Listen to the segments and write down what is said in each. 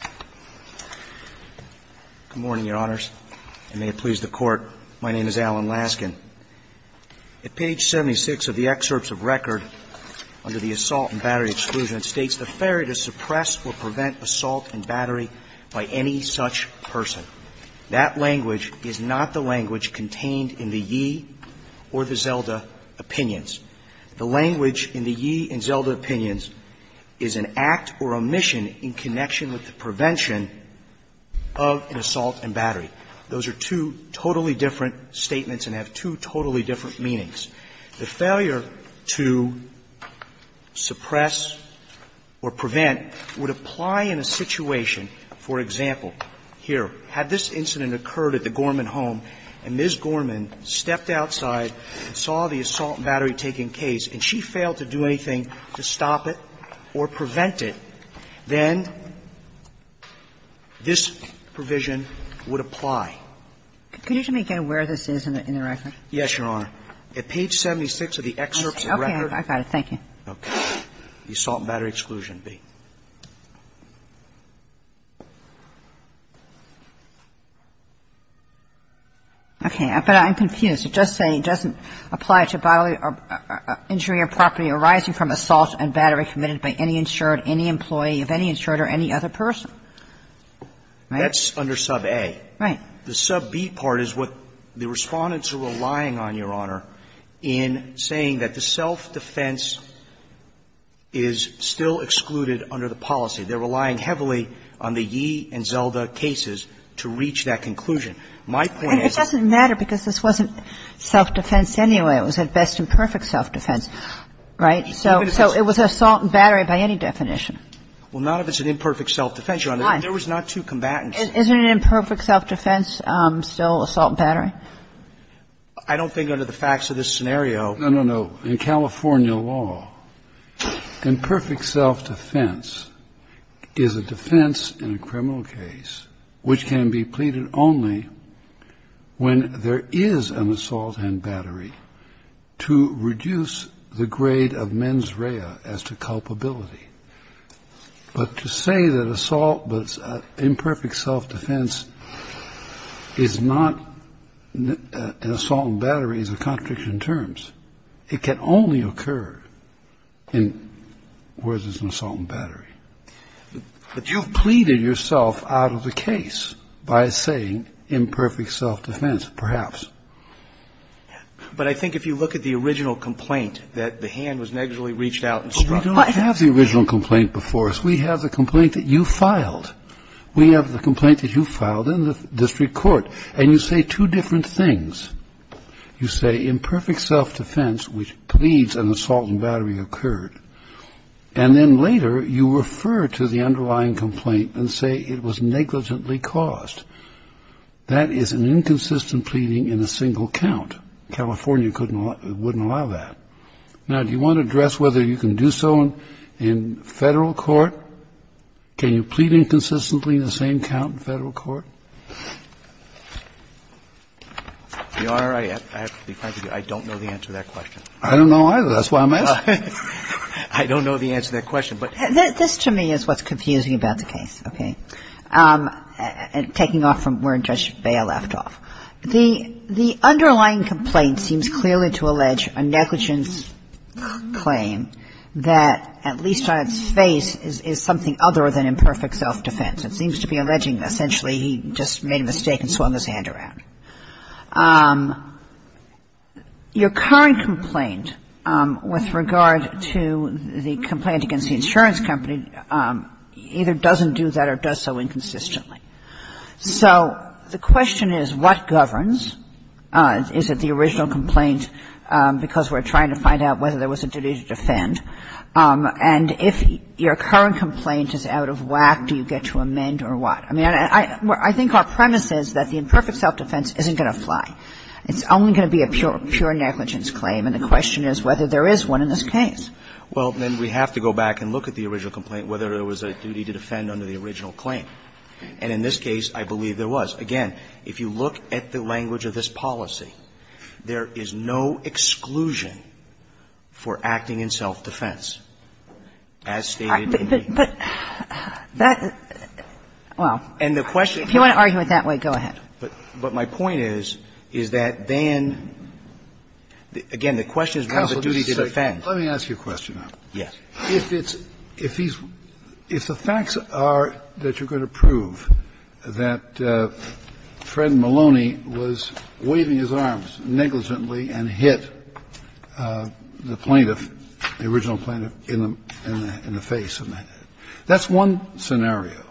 Good morning, Your Honors, and may it please the Court, my name is Alan Laskin. At page 76 of the excerpts of record under the assault and battery exclusion, it states, The ferry to suppress or prevent assault and battery by any such person. That language is not the language contained in the Yee or the Zelda Opinions. The language in the Yee and Zelda Opinions is an act or omission in connection with the prevention of an assault and battery. Those are two totally different statements and have two totally different meanings. The failure to suppress or prevent would apply in a situation, for example, here, had this incident occurred at the Gorman home and Ms. Gorman stepped outside and saw the assault and battery taking case and she failed to do anything to stop it or prevent it, then this provision would apply. Can you tell me again where this is in the record? Yes, Your Honor. At page 76 of the excerpts of record. Okay, I got it. Thank you. Okay. The assault and battery exclusion, B. Okay, but I'm confused. You're just saying it doesn't apply to bodily injury or property arising from assault and battery committed by any insured, any employee of any insured or any other person. Right? That's under sub A. Right. The sub B part is what the Respondents are relying on, Your Honor, in saying that the self-defense is still excluded under the policy. They're relying heavily on the Yee and Zelda cases to reach that conclusion. I don't think under the facts of this scenario that the assault and battery is still It was an imperfect self-defense anyway. It was a best and perfect self-defense, right? So it was assault and battery by any definition. Well, not if it's an imperfect self-defense, Your Honor. Why? There was not two combatants. Isn't an imperfect self-defense still assault and battery? I don't think under the facts of this scenario. No, no, no. In California law, imperfect self-defense is a defense in a criminal case which can be pleaded only when there is an assault and battery to reduce the grade of mens rea as to culpability. But to say that assault but imperfect self-defense is not an assault and battery is a contradiction in terms. It can only occur in where there's an assault and battery. But you've pleaded yourself out of the case by saying imperfect self-defense, perhaps. But I think if you look at the original complaint that the hand was negligibly reached out and struck. But we don't have the original complaint before us. We have the complaint that you filed. We have the complaint that you filed in the district court. And you say two different things. You say imperfect self-defense, which pleads an assault and battery occurred. And then later, you refer to the underlying complaint and say it was negligently caused. That is an inconsistent pleading in a single count. California wouldn't allow that. Now, do you want to address whether you can do so in federal court? Can you plead inconsistently in the same count in federal court? The Honor, I have to be kind to you. I don't know the answer to that question. I don't know either. That's why I'm asking. I don't know the answer to that question. This to me is what's confusing about the case. Okay? Taking off from where Judge Bale left off. The underlying complaint seems clearly to allege a negligence claim that at least on its face is something other than imperfect self-defense. It seems to be alleging essentially he just made a mistake and swung his hand around. Your current complaint with regard to the complaint against the insurance company either doesn't do that or does so inconsistently. So the question is what governs? Is it the original complaint because we're trying to find out whether there was a duty to defend? And if your current complaint is out of whack, do you get to amend or what? I mean, I think our premise is that the imperfect self-defense isn't going to fly. It's only going to be a pure negligence claim. And the question is whether there is one in this case. Well, then we have to go back and look at the original complaint, whether there was a duty to defend under the original claim. And in this case, I believe there was. Again, if you look at the language of this policy, there is no exclusion for acting in self-defense, as stated in the case. But that – well, if you want to argue it that way, go ahead. But my point is, is that then, again, the question is whether there is a duty to defend. Counsel, let me ask you a question now. Yes. If it's – if these – if the facts are that you're going to prove that Fred Maloney was waving his arms negligently and hit the plaintiff, the original plaintiff, in the face, that's one scenario.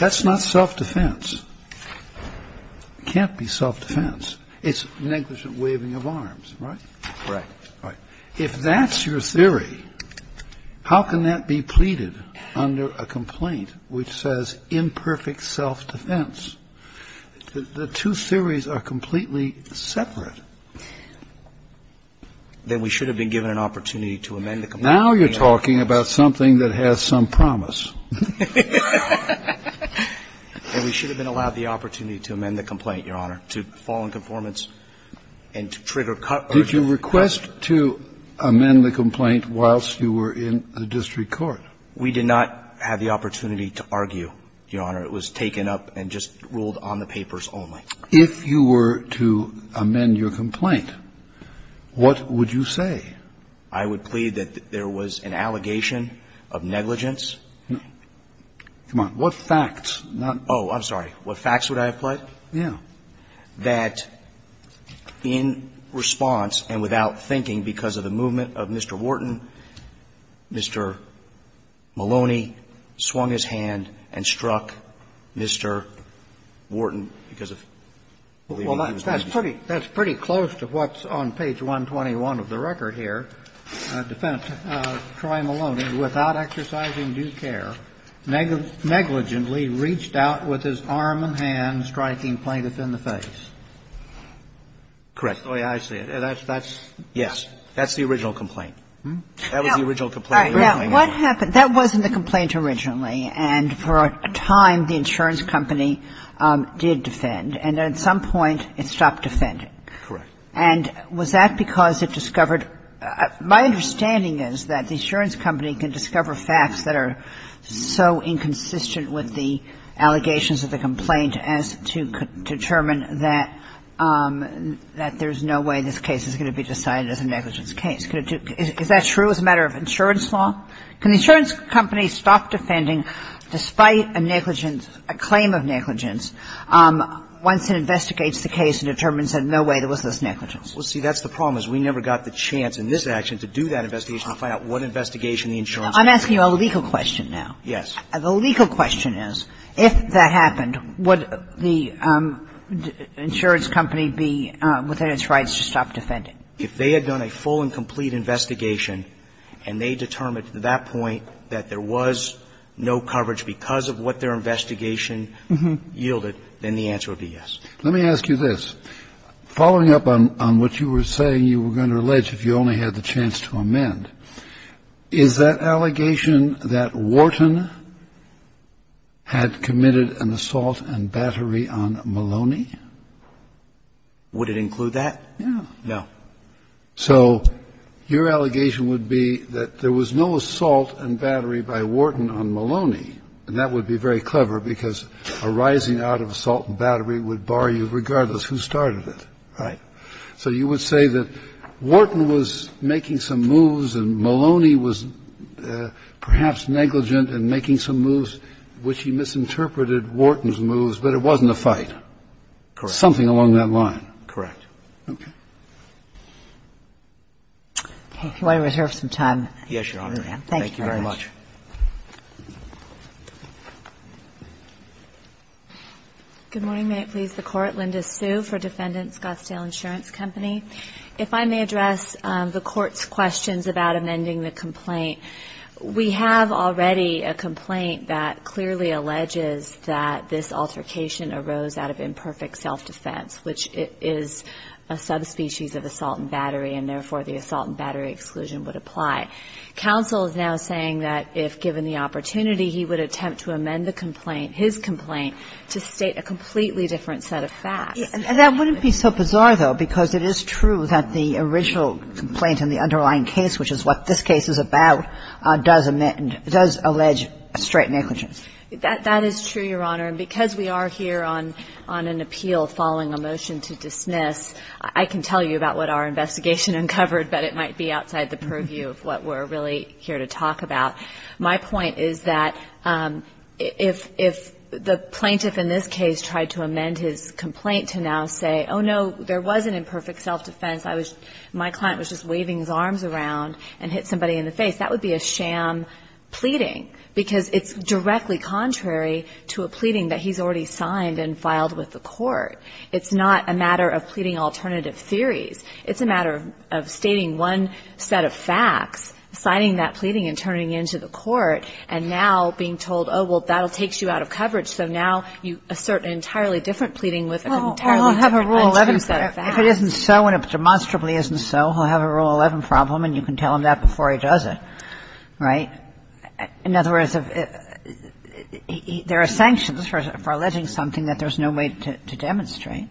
That's not self-defense. It can't be self-defense. It's negligent waving of arms, right? Correct. Right. If that's your theory, how can that be pleaded under a complaint which says imperfect self-defense? The two theories are completely separate. Then we should have been given an opportunity to amend the complaint. Now you're talking about something that has some promise. And we should have been allowed the opportunity to amend the complaint, Your Honor, to fall in conformance and to trigger cut. Did you request to amend the complaint whilst you were in the district court? We did not have the opportunity to argue, Your Honor. It was taken up and just ruled on the papers only. If you were to amend your complaint, what would you say? I would plead that there was an allegation of negligence. Come on. What facts? Oh, I'm sorry. What facts would I have pled? Yeah. That in response and without thinking because of the movement of Mr. Wharton, Mr. Maloney swung his hand and struck Mr. Wharton because of the movement of Mr. Wharton. Well, that's pretty close to what's on page 121 of the record here. Defense. Troy Maloney, without exercising due care, negligently reached out with his arm and hand, striking plaintiff in the face. Correct. Oh, yeah, I see it. That's the original complaint. That was the original complaint. All right. Now, what happened? That wasn't the complaint originally, and for a time the insurance company did defend, and at some point it stopped defending. Correct. And was that because it discovered my understanding is that the insurance company can discover facts that are so inconsistent with the allegations of the complaint as to determine that there's no way this case is going to be decided as a negligence case? Is that true as a matter of insurance law? Can the insurance company stop defending despite a negligence, a claim of negligence once it investigates the case and determines that no way there was this negligence? Well, see, that's the problem is we never got the chance in this action to do that investigation to find out what investigation the insurance company did. I'm asking you a legal question now. Yes. The legal question is, if that happened, would the insurance company be within its rights to stop defending? If they had done a full and complete investigation and they determined at that point that there was no coverage because of what their investigation yielded, then the answer would be yes. Let me ask you this. Following up on what you were saying, you were going to allege if you only had the chance to amend, is that allegation that Wharton had committed an assault and battery on Maloney? Would it include that? No. So your allegation would be that there was no assault and battery by Wharton on Maloney, and that would be very clever because a rising out of assault and battery would bar you regardless who started it. Right. So you would say that Wharton was making some moves and Maloney was perhaps negligent in making some moves, which he misinterpreted Wharton's moves, but it wasn't a fight. Correct. Something along that line. Correct. Okay. If you want to reserve some time. Yes, Your Honor. Thank you very much. Good morning. May it please the Court. Linda Sue for Defendant Scottsdale Insurance Company. If I may address the Court's questions about amending the complaint. We have already a complaint that clearly alleges that this altercation arose out of a subspecies of assault and battery, and therefore the assault and battery exclusion would apply. Counsel is now saying that if given the opportunity, he would attempt to amend the complaint, his complaint, to state a completely different set of facts. That wouldn't be so bizarre, though, because it is true that the original complaint in the underlying case, which is what this case is about, does amend, does allege straight negligence. That is true, Your Honor. And because we are here on an appeal following a motion to dismiss, I can tell you about what our investigation uncovered, but it might be outside the purview of what we're really here to talk about. My point is that if the plaintiff in this case tried to amend his complaint to now say, oh, no, there was an imperfect self-defense, my client was just waving his arms around and hit somebody in the face, that would be a sham pleading, because it's a sham pleading that he's already signed and filed with the court. It's not a matter of pleading alternative theories. It's a matter of stating one set of facts, signing that pleading and turning it into the court, and now being told, oh, well, that will take you out of coverage, so now you assert an entirely different pleading with an entirely different untrue set of facts. If it isn't so and it demonstrably isn't so, he'll have a Rule 11 problem, and you can tell him that before he does it, right? In other words, there are sanctions for alleging something that there's no way to demonstrate.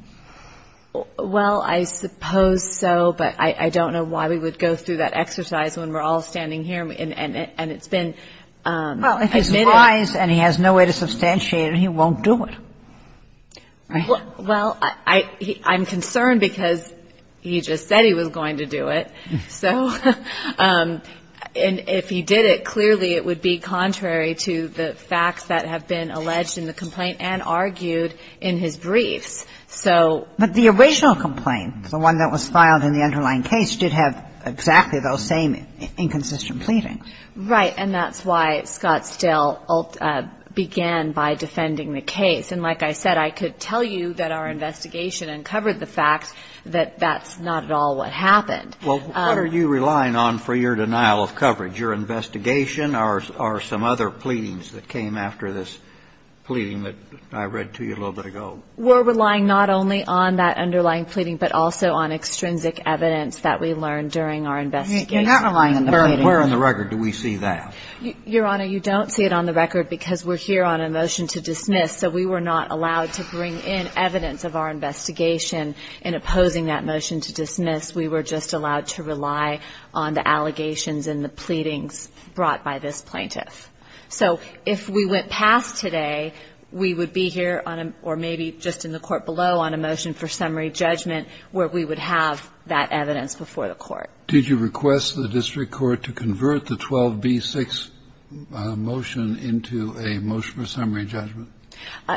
Well, I suppose so, but I don't know why we would go through that exercise when we're all standing here and it's been admitted. Well, if he lies and he has no way to substantiate it, he won't do it, right? Well, I'm concerned because he just said he was going to do it, so. And if he did it, clearly it would be contrary to the facts that have been alleged in the complaint and argued in his briefs. So the original complaint, the one that was filed in the underlying case, did have exactly those same inconsistent pleadings. Right. And that's why Scott still began by defending the case. And like I said, I could tell you that our investigation uncovered the fact that that's not at all what happened. Well, what are you relying on for your denial of coverage, your investigation or some other pleadings that came after this pleading that I read to you a little bit ago? We're relying not only on that underlying pleading, but also on extrinsic evidence that we learned during our investigation. You're not relying on the pleading. Where on the record do we see that? Your Honor, you don't see it on the record because we're here on a motion to dismiss. So we were not allowed to bring in evidence of our investigation in opposing that motion to dismiss. We were just allowed to rely on the allegations and the pleadings brought by this plaintiff. So if we went past today, we would be here on a or maybe just in the court below on a motion for summary judgment where we would have that evidence before the court. Did you request the district court to convert the 12B6 motion into a motion for summary judgment?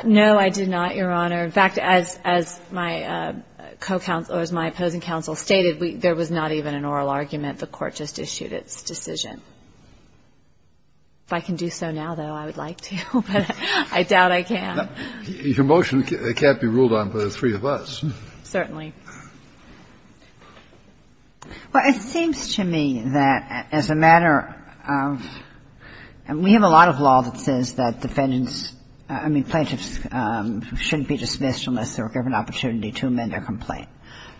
No, I did not, Your Honor. In fact, as my co-counsel or as my opposing counsel stated, there was not even an oral argument. The court just issued its decision. If I can do so now, though, I would like to, but I doubt I can. Your motion can't be ruled on by the three of us. Certainly. Well, it seems to me that as a matter of we have a lot of law that says that defendants shouldn't be dismissed unless they're given an opportunity to amend their complaint.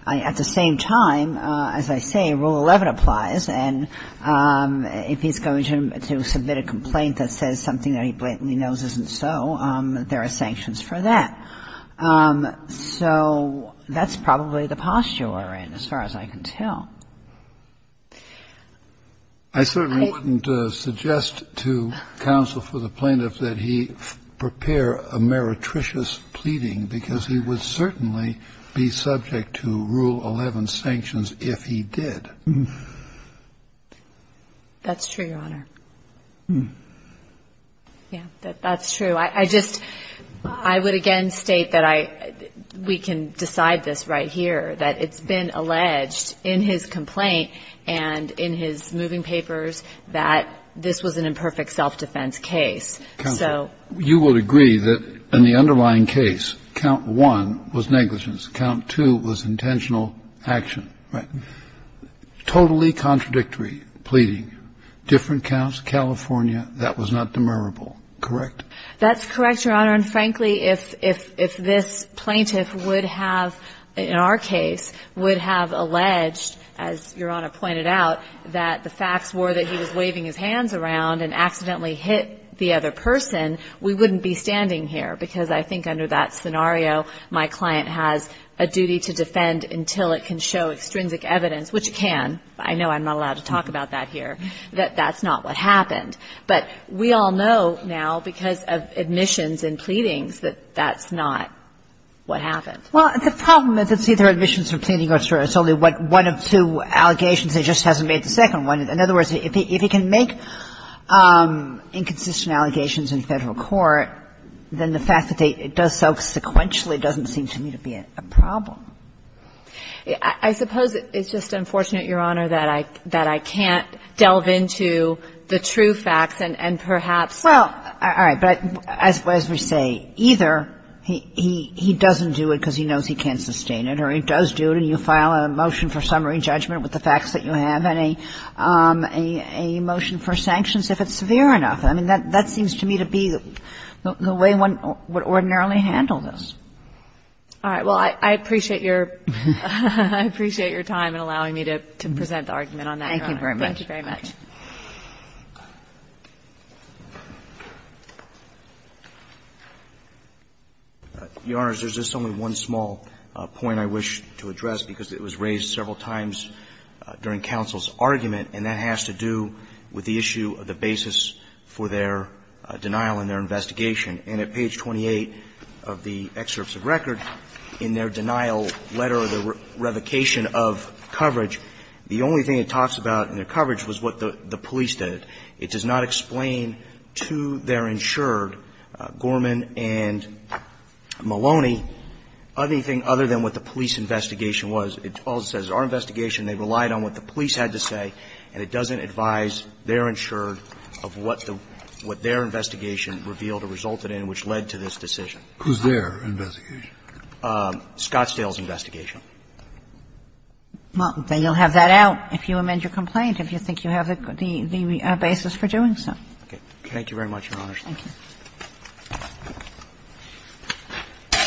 At the same time, as I say, Rule 11 applies, and if he's going to submit a complaint that says something that he blatantly knows isn't so, there are sanctions for that. So that's probably the posture we're in as far as I can tell. I certainly wouldn't suggest to counsel for the plaintiff that he prepare a meretricious pleading, because he would certainly be subject to Rule 11 sanctions if he did. That's true, Your Honor. Yes, that's true. I just – I would again state that I – we can decide this right here, that it's been alleged in his complaint and in his moving papers that this was an imperfect self-defense case. Counsel, you would agree that in the underlying case, count one was negligence, count two was intentional action. Right. Totally contradictory pleading, different counts, California, that was not demurrable, correct? That's correct, Your Honor, and frankly, if this plaintiff would have, in our case, would have alleged, as Your Honor pointed out, that the facts were that he was waving his hands around and accidentally hit the other person, we wouldn't be standing here, because I think under that scenario, my client has a duty to defend until it can show extrinsic evidence, which it can. I know I'm not allowed to talk about that here, that that's not what happened. But we all know now, because of admissions and pleadings, that that's not what happened. Well, the problem is it's either admissions from pleading or it's only one of two allegations, it just hasn't made the second one. In other words, if he can make inconsistent allegations in Federal court, then the problem. I suppose it's just unfortunate, Your Honor, that I can't delve into the true facts and perhaps. Well, all right. But as we say, either he doesn't do it because he knows he can't sustain it, or he does do it and you file a motion for summary judgment with the facts that you have, and a motion for sanctions if it's severe enough. I mean, that seems to me to be the way one would ordinarily handle this. All right. Well, I appreciate your time in allowing me to present the argument on that. Thank you very much. Thank you very much. Your Honors, there's just only one small point I wish to address, because it was raised several times during counsel's argument, and that has to do with the issue of the basis for their denial in their investigation. And at page 28 of the excerpts of record, in their denial letter, the revocation of coverage, the only thing it talks about in their coverage was what the police did. It does not explain to their insured, Gorman and Maloney, anything other than what the police investigation was. It all says our investigation, they relied on what the police had to say, and it doesn't advise their insured of what the – what their investigation revealed or resulted in which led to this decision. Who's their investigation? Scottsdale's investigation. Well, then you'll have that out if you amend your complaint, if you think you have the basis for doing so. Thank you very much, Your Honors. Thank you.